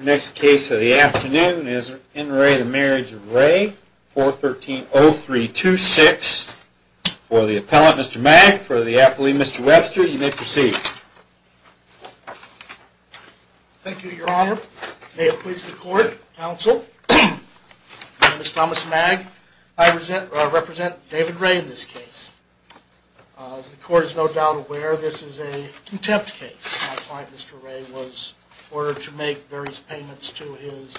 Next case of the afternoon is in re Marriage of Ray 413-0326 for the appellant, Mr. Mag, for the athlete, Mr. Webster. You may proceed. Thank you, Your Honor. May it please the court, counsel. My name is Thomas Mag. I represent David Ray in this case. As the court is no doubt aware, this is a contempt case. My client, Mr. Ray, was ordered to make various payments to his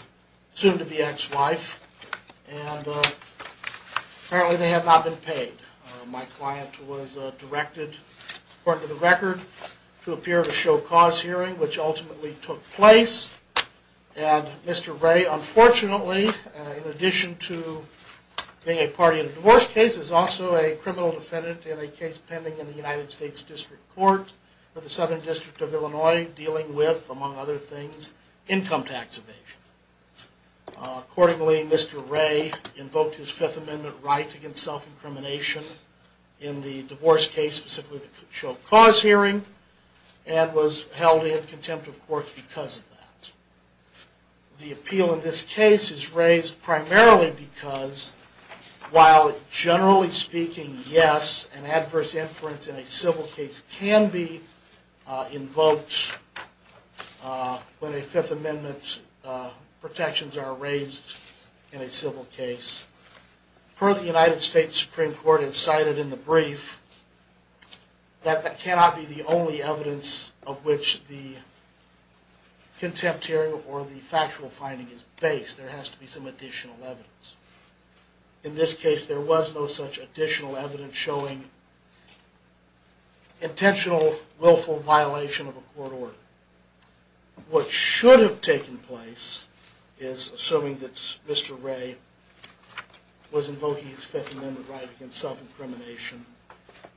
soon-to-be ex-wife, and apparently they have not been paid. My client was directed, according to the record, to appear at a show-cause hearing, which ultimately took place, and Mr. Ray, unfortunately, in addition to being a party in a divorce case, is also a criminal defendant in a case pending in the United States District Court for the Southern District of Illinois, dealing with, among other things, income tax evasion. Accordingly, Mr. Ray invoked his Fifth Amendment right against self-incrimination in the divorce case, specifically the show-cause hearing, and was held in contempt of court because of that. The appeal in this case is raised primarily because, while generally speaking, yes, an adverse inference in a civil case can be invoked when a Fifth Amendment protections are raised in a civil case, per the United States Supreme Court incited in the brief, that cannot be the only evidence of which the contempt hearing or the factual finding is based. There has to be some additional evidence. In this case, there was no such additional evidence showing intentional, willful violation of a court order. What should have taken place, assuming that Mr. Ray was invoking his Fifth Amendment right against self-incrimination,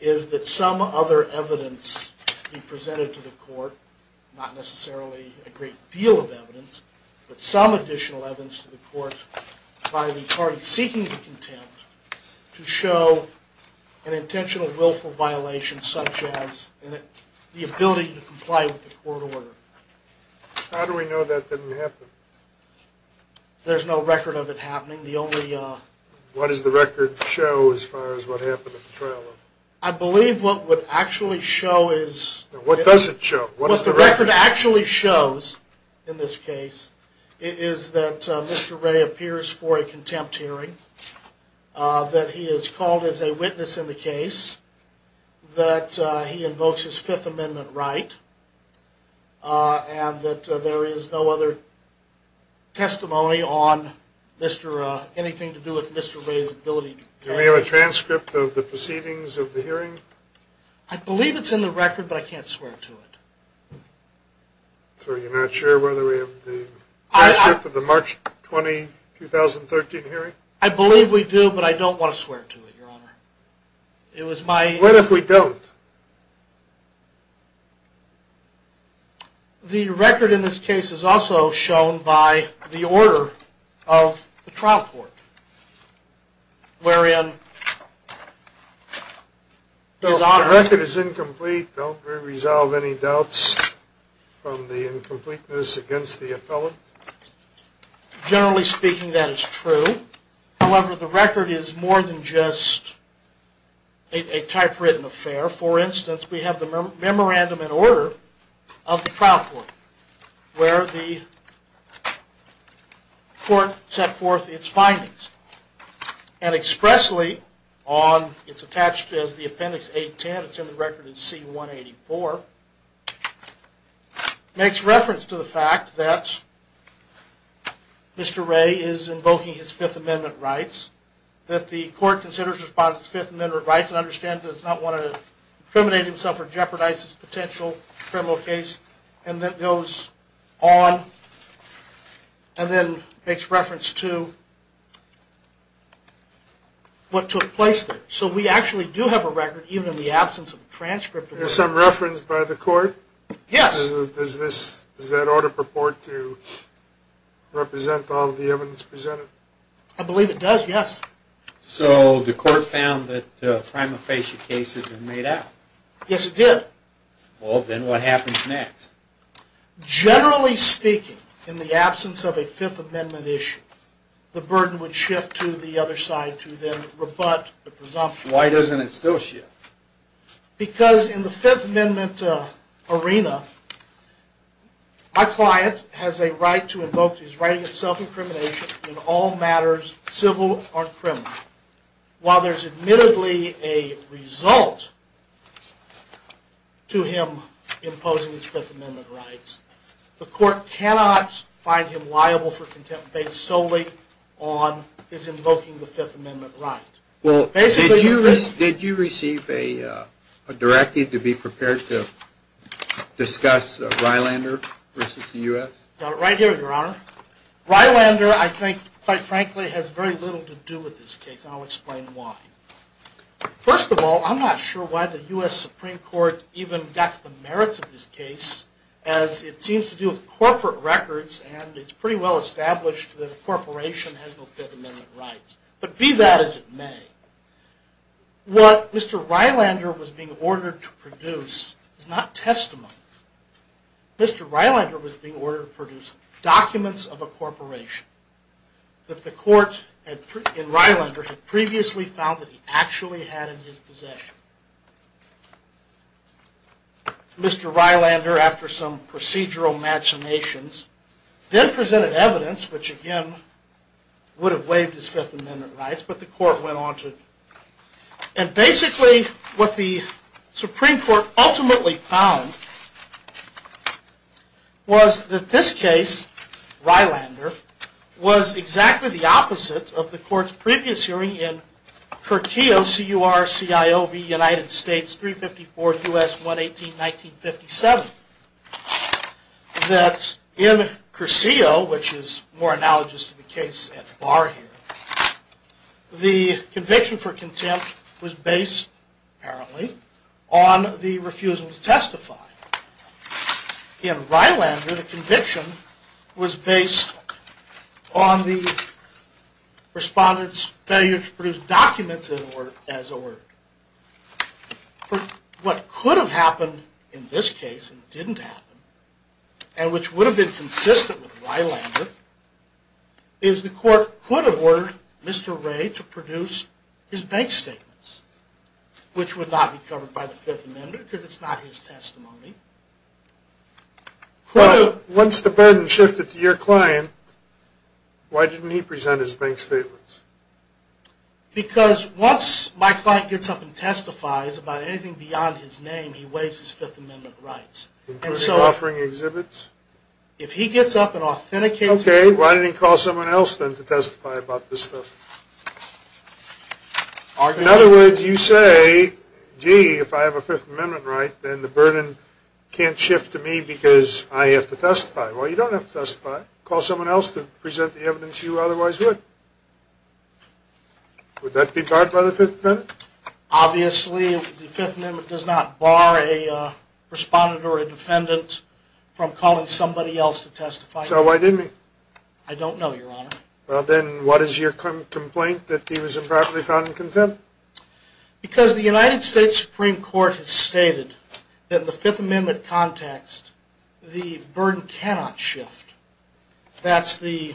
is that some other evidence be presented to the court, not necessarily a great deal of evidence, but some additional evidence to the court by the parties seeking contempt to show an intentional, willful violation, such as the ability to comply with the court order. How do we know that didn't happen? There's no record of it happening. The only... What does the record show as far as what happened at the trial? I believe what would actually show is... What does it show? What the record actually shows, in this case, is that Mr. Ray appears for a contempt hearing, that he is called as a witness in the case, that he invokes his Fifth Amendment right, and that there is no other testimony on anything to do with Mr. Ray's ability... Do we have a transcript of the proceedings of the hearing? I believe it's in the record, but I can't swear to it. So you're not sure whether we have the transcript of the March 20, 2013 hearing? I believe we do, but I don't want to swear to it, Your Honor. It was my... What if we don't? The record in this case is also shown by the order of the trial court, wherein... So if the record is incomplete, don't we resolve any doubts from the incompleteness against the appellant? Generally speaking, that is true. However, the record is more than just a typewritten affair. For instance, we have the memorandum in order of the trial court, where the court set forth its findings. And expressly, it's attached as the Appendix A-10, it's in the record as C-184, makes reference to the fact that Mr. Ray is invoking his Fifth Amendment rights, that the court considers and responds to his Fifth Amendment rights and understands that he does not want to incriminate himself or jeopardize his potential criminal case, and that goes on and then makes reference to what took place there. So we actually do have a record, even in the absence of a transcript. Is there some reference by the court? Yes. Does that order purport to represent all the evidence presented? I believe it does, yes. So the court found that prima facie cases were made out? Yes, it did. Well, then what happens next? Generally speaking, in the absence of a Fifth Amendment issue, the burden would shift to the other side to then rebut the presumption. Why doesn't it still shift? Because in the Fifth Amendment arena, my client has a right to invoke his right of self-incrimination in all matters, civil or criminal. While there's admittedly a result to him imposing his Fifth Amendment rights, the court cannot find him liable for contempt based solely on his invoking the Fifth Amendment right. Well, did you receive a directive to be prepared to discuss Rylander versus the U.S.? Right here, Your Honor. Rylander, I think, quite frankly, has very little to do with this case, and I'll explain why. First of all, I'm not sure why the U.S. Supreme Court even got to the merits of this case, as it seems to do with corporate records, and it's pretty well established that a corporation has no Fifth Amendment rights. But be that as it may, what Mr. Rylander was being ordered to produce is not testimony. Mr. Rylander was being ordered to produce documents of a corporation that the court in Rylander had previously found that he actually had in his possession. Mr. Rylander, after some procedural machinations, then presented evidence which, again, would have waived his Fifth Amendment rights, but the court went on to... And basically, what the Supreme Court ultimately found was that this case, Rylander, was exactly the opposite of the court's previous hearing in Curcio, C-U-R-C-I-O-V, United States, 354th U.S. 118, 1957. That in Curcio, which is more analogous to the case at Barr here, the conviction for contempt was based, apparently, on the refusal to testify. In Rylander, the conviction was based on the respondent's failure to produce documents as ordered. What could have happened in this case, and didn't happen, and which would have been consistent with Rylander, is the court could have ordered Mr. Ray to produce his bank statements, which would not be covered by the Fifth Amendment because it's not his testimony. Once the burden shifted to your client, why didn't he present his bank statements? Because once my client gets up and testifies about anything beyond his name, he waives his Fifth Amendment rights. Including offering exhibits? If he gets up and authenticates... Okay, why didn't he call someone else then to testify about this stuff? In other words, you say, gee, if I have a Fifth Amendment right, then the burden can't shift to me because I have to testify. Well, you don't have to testify. Call someone else to present the evidence you otherwise would. Would that be barred by the Fifth Amendment? Obviously, the Fifth Amendment does not bar a respondent or a defendant from calling somebody else to testify. So why didn't he? I don't know, Your Honor. Well, then what is your complaint that he was improperly found in contempt? Because the United States Supreme Court has stated that in the Fifth Amendment context, the burden cannot shift. The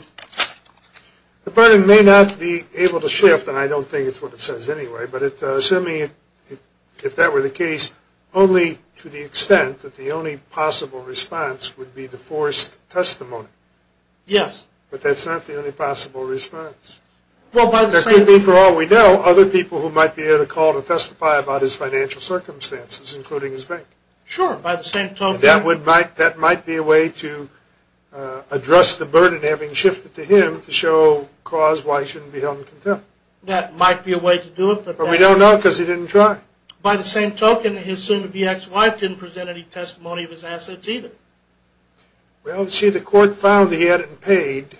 burden may not be able to shift, and I don't think it's what it says anyway, but assuming that were the case, only to the extent that the only possible response would be the forced testimony. Yes. But that's not the only possible response. There could be, for all we know, other people who might be able to call to testify about his financial circumstances, including his bank. Sure, by the same token... That might be a way to address the burden having shifted to him to show cause why he shouldn't be held in contempt. That might be a way to do it, but... But we don't know because he didn't try. By the same token, his soon-to-be ex-wife didn't present any testimony of his assets either. Well, see, the court found that he hadn't paid,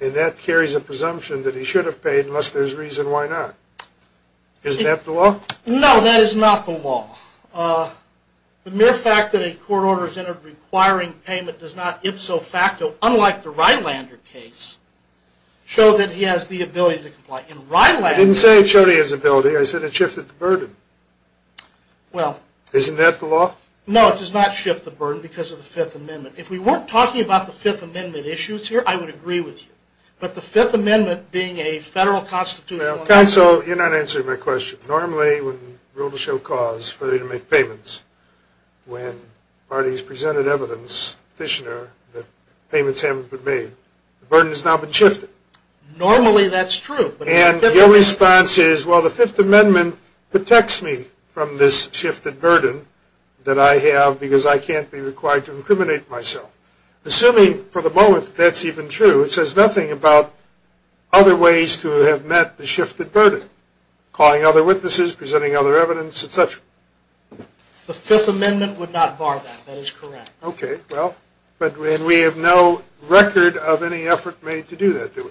and that carries a presumption that he should have paid, unless there's reason why not. Isn't that the law? No, that is not the law. The mere fact that a court order is in it requiring payment does not, ipso facto, unlike the Rylander case, show that he has the ability to comply. In Rylander... I didn't say it showed he has ability. I said it shifted the burden. Well... Isn't that the law? No, it does not shift the burden because of the Fifth Amendment. If we weren't talking about the Fifth Amendment issues here, I would agree with you. But the Fifth Amendment being a federal constitutional... Counsel, you're not answering my question. Normally, when the rule to show cause for you to make payments, when parties presented evidence, petitioner, that payments haven't been made, the burden has now been shifted. Normally, that's true. And your response is, well, the Fifth Amendment protects me from this shifted burden that I have because I can't be required to incriminate myself. Assuming, for the moment, that's even true, it says nothing about other ways to have met the shifted burden. Calling other witnesses, presenting other evidence, etc. The Fifth Amendment would not bar that. That is correct. Okay, well... And we have no record of any effort made to do that, do we?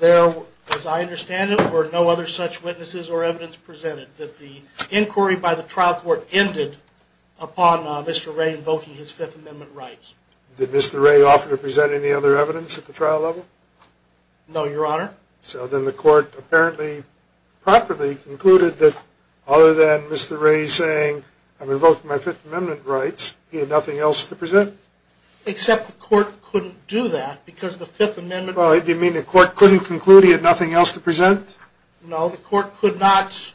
There, as I understand it, were no other such witnesses or evidence presented. That the inquiry by the trial court ended upon Mr. Ray invoking his Fifth Amendment rights. Did Mr. Ray offer to present any other evidence at the trial level? No, Your Honor. So then the court apparently, properly, concluded that other than Mr. Ray saying, I'm invoking my Fifth Amendment rights, he had nothing else to present? Except the court couldn't do that because the Fifth Amendment... Well, do you mean the court couldn't conclude he had nothing else to present? No, the court could not...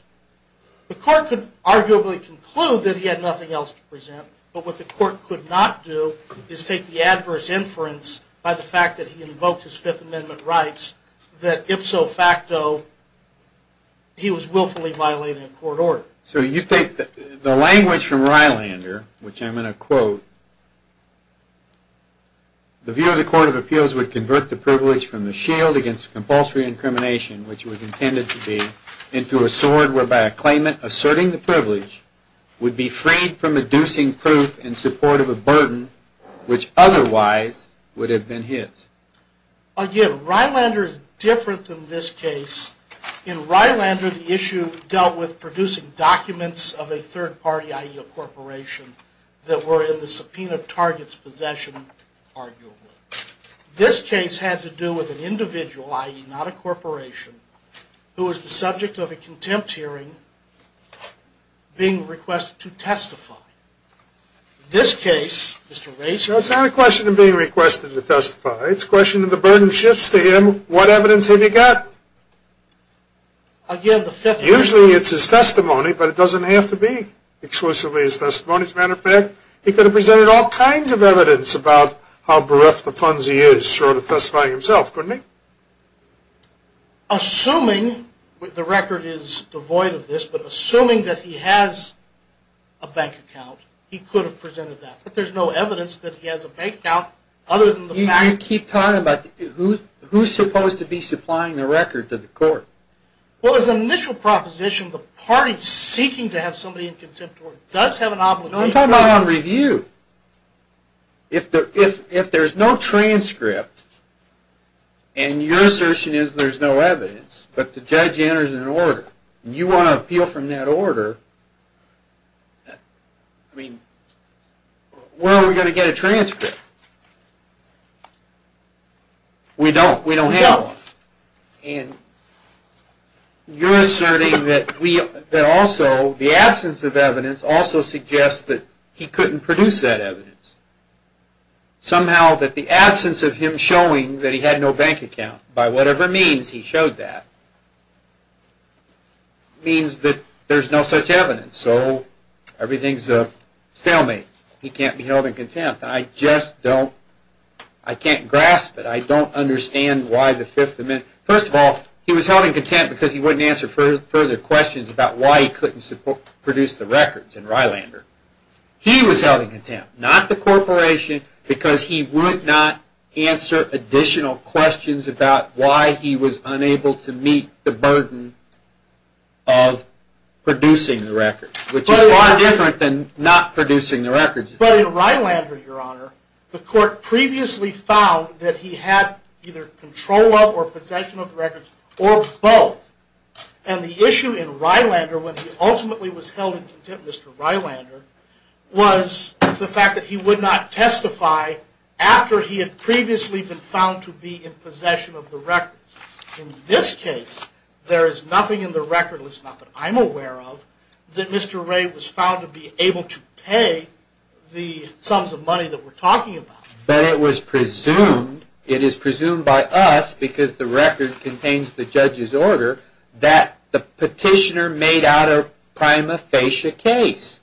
The court could arguably conclude that he had nothing else to present, but what the court could not do is take the adverse inference by the fact that he invoked his Fifth Amendment rights, that ipso facto, he was willfully violating a court order. So you think that the language from Rylander, which I'm going to quote, The view of the Court of Appeals would convert the privilege from the shield against compulsory incrimination, which was intended to be, into a sword whereby a claimant asserting the privilege would be freed from inducing proof in support of a burden which otherwise would have been his. Again, Rylander is different than this case. In Rylander, the issue dealt with producing documents of a third party, i.e., a corporation, that were in the subpoena target's possession, arguably. This case had to do with an individual, i.e., not a corporation, who was the subject of a contempt hearing being requested to testify. In this case, Mr. Race... It's not a question of being requested to testify, it's a question of the burden shifts to him, what evidence have you got? Again, the Fifth Amendment... Usually it's his testimony, but it doesn't have to be exclusively his testimony. As a matter of fact, he could have presented all kinds of evidence about how bereft of funds he is, short of testifying himself, couldn't he? Assuming, the record is devoid of this, but assuming that he has a bank account, he could have presented that. But there's no evidence that he has a bank account other than the fact... You keep talking about who's supposed to be supplying the record to the court. Well, as an initial proposition, the party seeking to have somebody in contempt does have an obligation... I'm talking about on review. If there's no transcript, and your assertion is there's no evidence, but the judge enters an order, and you want to appeal from that order, where are we going to get a transcript? We don't. We don't have one. And you're asserting that also the absence of evidence also suggests that he couldn't produce that evidence. Somehow that the absence of him showing that he had no bank account, by whatever means he showed that, means that there's no such evidence. So, everything's a stalemate. He can't be held in contempt. I just don't... I can't grasp it. I don't understand why the Fifth Amendment... First of all, he was held in contempt because he wouldn't answer further questions about why he couldn't produce the records in Rylander. He was held in contempt, not the corporation, because he would not answer additional questions about why he was unable to meet the burden of producing the records. Which is far different than not producing the records. But in Rylander, Your Honor, the court previously found that he had either control of or possession of the records, or both. And the issue in Rylander, when he ultimately was held in contempt, Mr. Rylander, was the fact that he would not testify after he had previously been found to be in possession of the records. In this case, there is nothing in the record, at least not that I'm aware of, that Mr. Ray was found to be able to pay the sums of money that we're talking about. But it was presumed, it is presumed by us, because the record contains the judge's order, that the petitioner made out a prima facie case.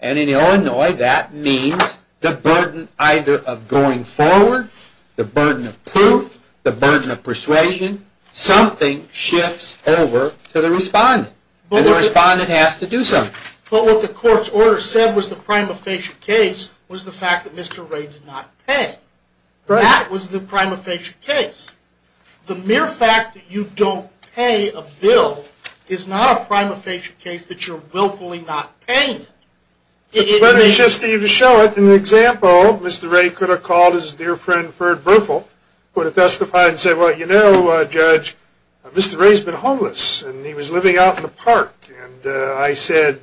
And in Illinois, that means the burden either of going forward, the burden of proof, the burden of persuasion, something shifts over to the respondent. And the respondent has to do something. But what the court's order said was the prima facie case was the fact that Mr. Ray did not pay. That was the prima facie case. The mere fact that you don't pay a bill is not a prima facie case that you're willfully not paying it. Let me just show it. In the example, Mr. Ray could have called his dear friend, Ferd Berthel, who would have testified and said, Well, you know, Judge, Mr. Ray's been homeless, and he was living out in the park. And I said,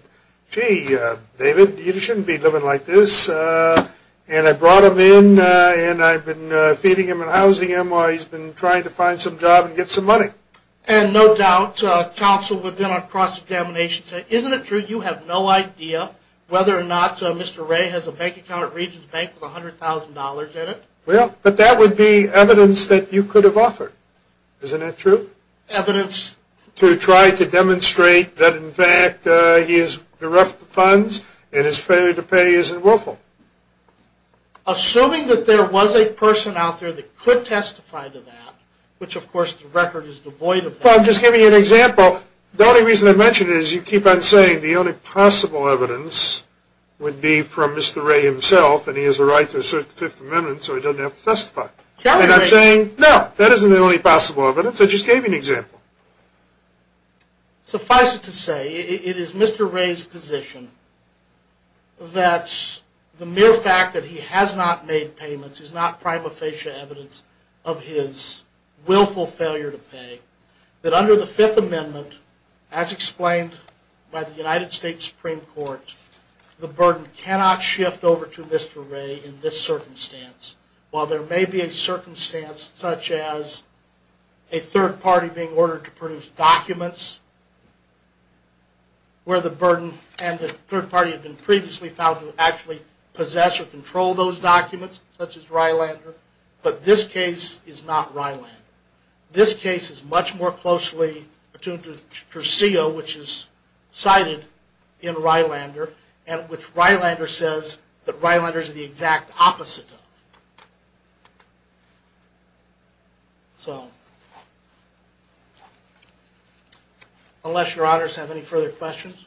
Gee, David, you shouldn't be living like this. And I brought him in, and I've been feeding him and housing him while he's been trying to find some job and get some money. And no doubt counsel within our cross-examination said, Isn't it true you have no idea whether or not Mr. Ray has a bank account at Regions Bank with $100,000 in it? Well, but that would be evidence that you could have offered. Isn't that true? Evidence? To try to demonstrate that, in fact, he has directed the funds, and his failure to pay isn't willful. Assuming that there was a person out there that could testify to that, which, of course, the record is devoid of that. Well, I'm just giving you an example. The only reason I mention it is you keep on saying the only possible evidence would be from Mr. Ray himself, and he has a right to assert the Fifth Amendment, so he doesn't have to testify. And I'm saying that isn't the only possible evidence. I just gave you an example. Suffice it to say, it is Mr. Ray's position that the mere fact that he has not made payments is not prima facie evidence of his willful failure to pay, that under the Fifth Amendment, as explained by the United States Supreme Court, the burden cannot shift over to Mr. Ray in this circumstance. While there may be a circumstance such as a third party being ordered to produce documents where the burden and the third party had been previously found to actually possess or control those documents, such as Rylander, but this case is not Rylander. This case is much more closely attuned to Trucillo, which is cited in Rylander, and which Rylander says that Rylander is the exact opposite of. So, unless your honors have any further questions.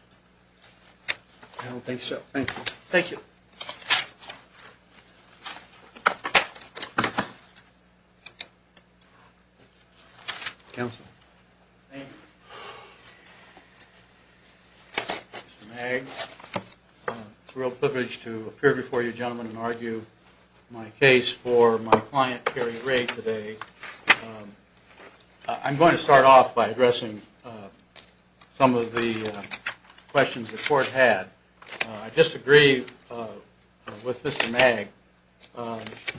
I don't think so. Thank you. Thank you. Counsel. Thank you. Mr. Magg. It's a real privilege to appear before you gentlemen and argue my case for my client, Kerry Ray, today. I'm going to start off by addressing some of the questions the court had. I disagree with Mr. Magg.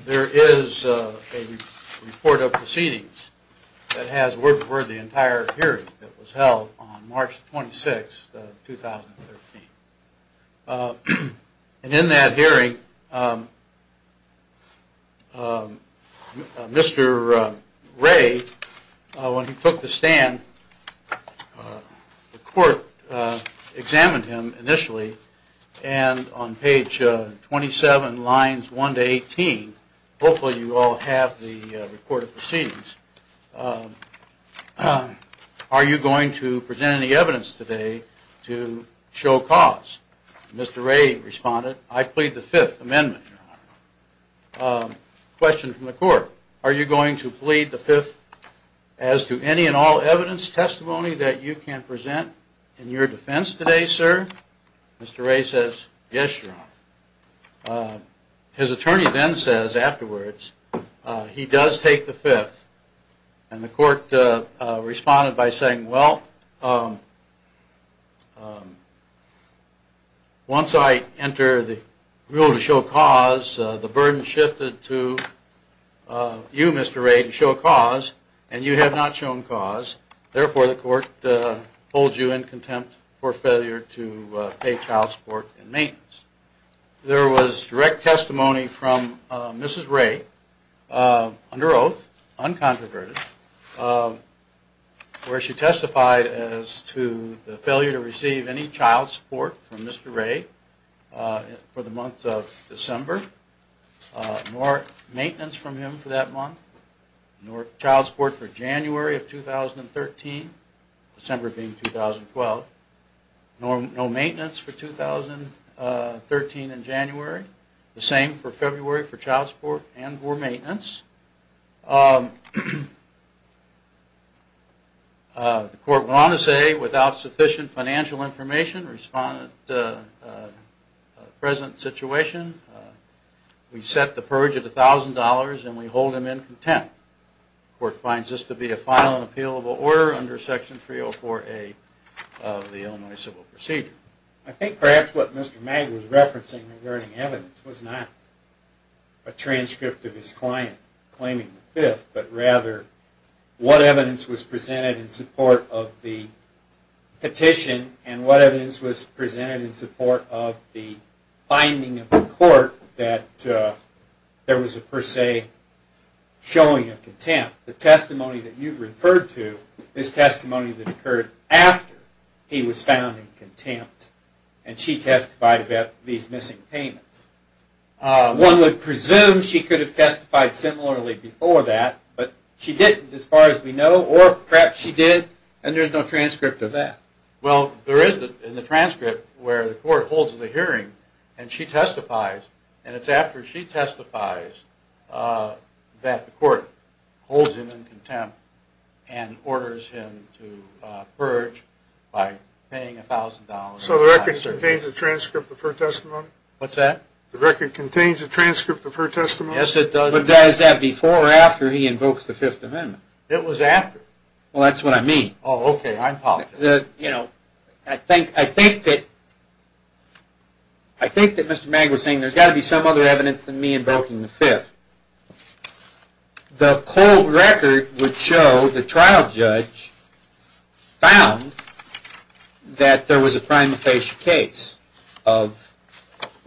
There is a report of proceedings that has word for word the entire hearing that was held on March 26, 2013. And in that hearing, Mr. Ray, when he took the stand, the court examined him initially, and on page 27, lines 1 to 18, hopefully you all have the report of proceedings. Are you going to present any evidence today to show cause? Mr. Ray responded, I plead the Fifth Amendment. Question from the court. Are you going to plead the Fifth as to any and all evidence, testimony that you can present in your defense today, sir? Mr. Ray says, yes, your honor. His attorney then says afterwards, he does take the Fifth. And the court responded by saying, well, once I enter the rule to show cause, the burden shifted to you, Mr. Ray, to show cause, and you have not shown cause. Therefore, the court holds you in contempt for failure to pay child support and maintenance. There was direct testimony from Mrs. Ray, under oath, uncontroverted, where she testified as to the failure to receive any child support from Mr. Ray for the month of December, nor maintenance from him for that month, nor child support for January of 2013, December being 2012, nor maintenance for 2013 in January. The same for February for child support and for maintenance. The court went on to say, without sufficient financial information, respondent, present situation, we set the purge at $1,000 and we hold him in contempt. The court finds this to be a final and appealable order under Section 304A of the Illinois Civil Procedure. I think perhaps what Mr. Magg was referencing regarding evidence was not a transcript of his client claiming the Fifth, but rather what evidence was presented in support of the petition, and what evidence was presented in support of the finding of the court that there was a per se showing of contempt. The testimony that you've referred to is testimony that occurred after he was found in contempt, and she testified about these missing payments. One would presume she could have testified similarly before that, but she didn't as far as we know, or perhaps she did and there's no transcript of that. Well, there is in the transcript where the court holds the hearing and she testifies, and it's after she testifies that the court holds him in contempt and orders him to purge by paying $1,000. So the record contains a transcript of her testimony? What's that? The record contains a transcript of her testimony? Yes, it does. But is that before or after he invokes the Fifth Amendment? It was after. Well, that's what I mean. Oh, okay, I apologize. You know, I think that Mr. Magg was saying there's got to be some other evidence than me invoking the Fifth. The cold record would show the trial judge found that there was a prima facie case,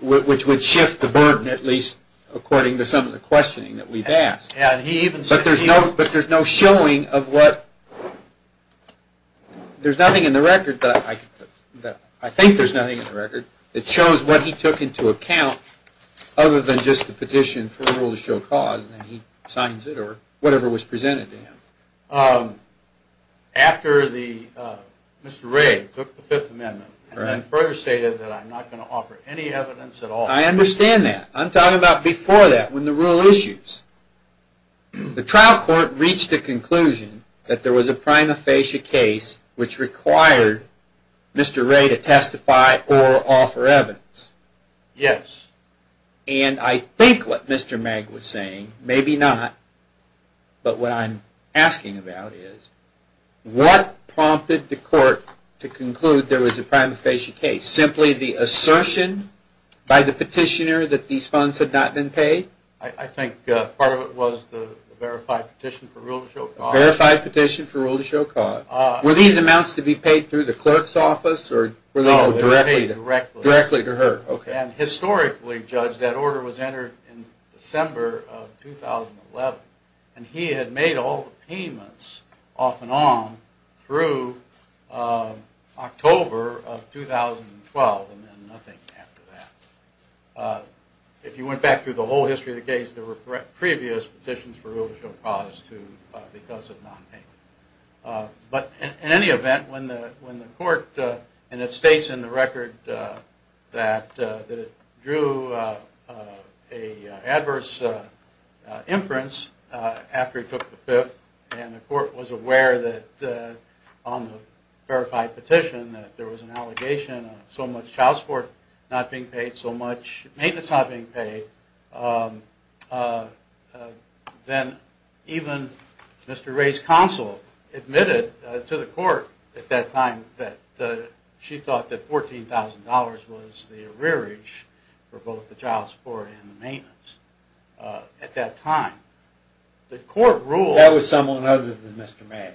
which would shift the burden at least according to some of the questioning that we've asked. But there's no showing of what, there's nothing in the record, I think there's nothing in the record, that shows what he took into account other than just the petition for a rule to show cause, and then he signs it or whatever was presented to him. After Mr. Wray took the Fifth Amendment and further stated that I'm not going to offer any evidence at all. I understand that. I'm talking about before that, when the rule issues. The trial court reached the conclusion that there was a prima facie case, which required Mr. Wray to testify or offer evidence. Yes. And I think what Mr. Magg was saying, maybe not, but what I'm asking about is, what prompted the court to conclude there was a prima facie case? Was it simply the assertion by the petitioner that these funds had not been paid? I think part of it was the verified petition for rule to show cause. Verified petition for rule to show cause. Were these amounts to be paid through the clerk's office? No, they were paid directly. Directly to her. Historically, Judge, that order was entered in December of 2011, and he had made all the payments off and on through October of 2012, and then nothing after that. If you went back through the whole history of the case, there were previous petitions for rule to show cause because of non-payment. But in any event, when the court, and it states in the record that it drew an adverse inference after he took the fifth, and the court was aware that on the verified petition that there was an allegation of so much child support not being paid, so much maintenance not being paid, then even Mr. Ray's counsel admitted to the court at that time that she thought that $14,000 was the arrearage for both the child support and the maintenance at that time. That was someone other than Mr. Ray.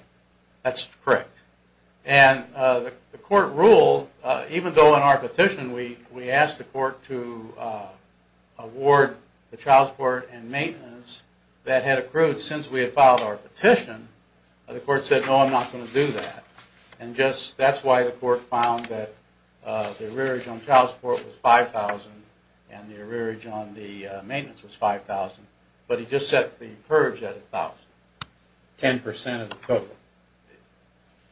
That's correct. And the court ruled, even though in our petition we asked the court to award the child support and maintenance that had accrued since we had filed our petition, the court said, no, I'm not going to do that. And that's why the court found that the arrearage on child support was $5,000 and the arrearage on the maintenance was $5,000, but he just set the purge at $1,000.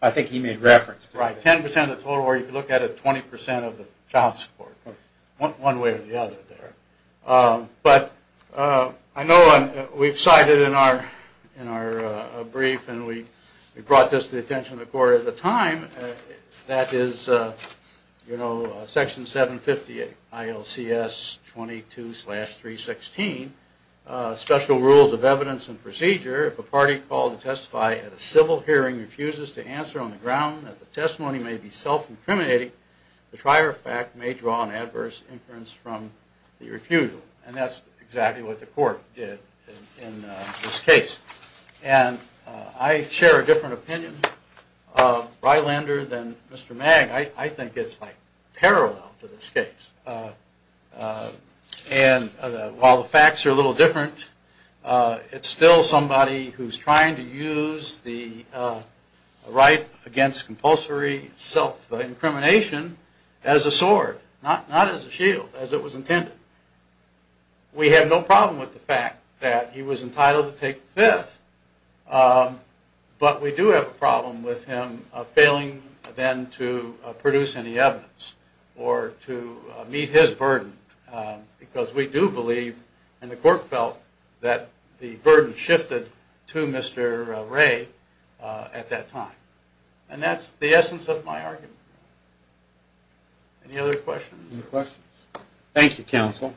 I think he made reference to that. 10% of the total, or if you look at it, 20% of the child support, one way or the other there. But I know we've cited in our brief, and we brought this to the attention of the court at the time, that is Section 758, ILCS 22-316, special rules of evidence and procedure, if a party called to testify at a civil hearing refuses to answer on the ground that the testimony may be self-incriminating, the prior fact may draw an adverse inference from the refusal. And that's exactly what the court did in this case. And I share a different opinion, Rylander, than Mr. Magg. I think it's like parallel to this case. And while the facts are a little different, it's still somebody who's trying to use the right against compulsory self-incrimination as a sword, not as a shield, as it was intended. We have no problem with the fact that he was entitled to take the fifth, but we do have a problem with him failing then to produce any evidence or to meet his burden, because we do believe, and the court felt, that the burden shifted to Mr. Ray at that time. And that's the essence of my argument. Any other questions? Thank you, counsel.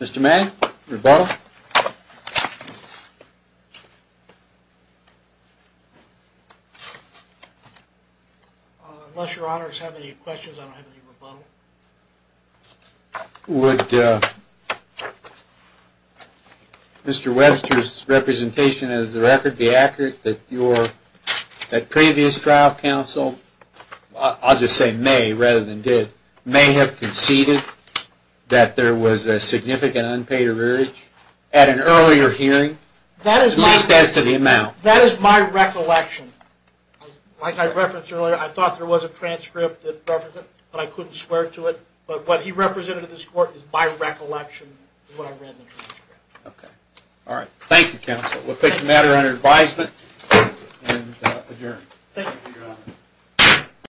Mr. Magg, rebuttal? Unless your honors have any questions, I don't have any rebuttal. Would Mr. Webster's representation as the record be accurate that previous trial counsel, I'll just say may rather than did, may have conceded that there was a significant unpaid urge at an earlier hearing, at least as to the amount? That is my recollection. Like I referenced earlier, I thought there was a transcript that referenced it, but I couldn't swear to it. But what he represented in this court is my recollection of what I read in the transcript. Okay. All right. Thank you, counsel. We'll take the matter under advisement and adjourn. Thank you, your honor.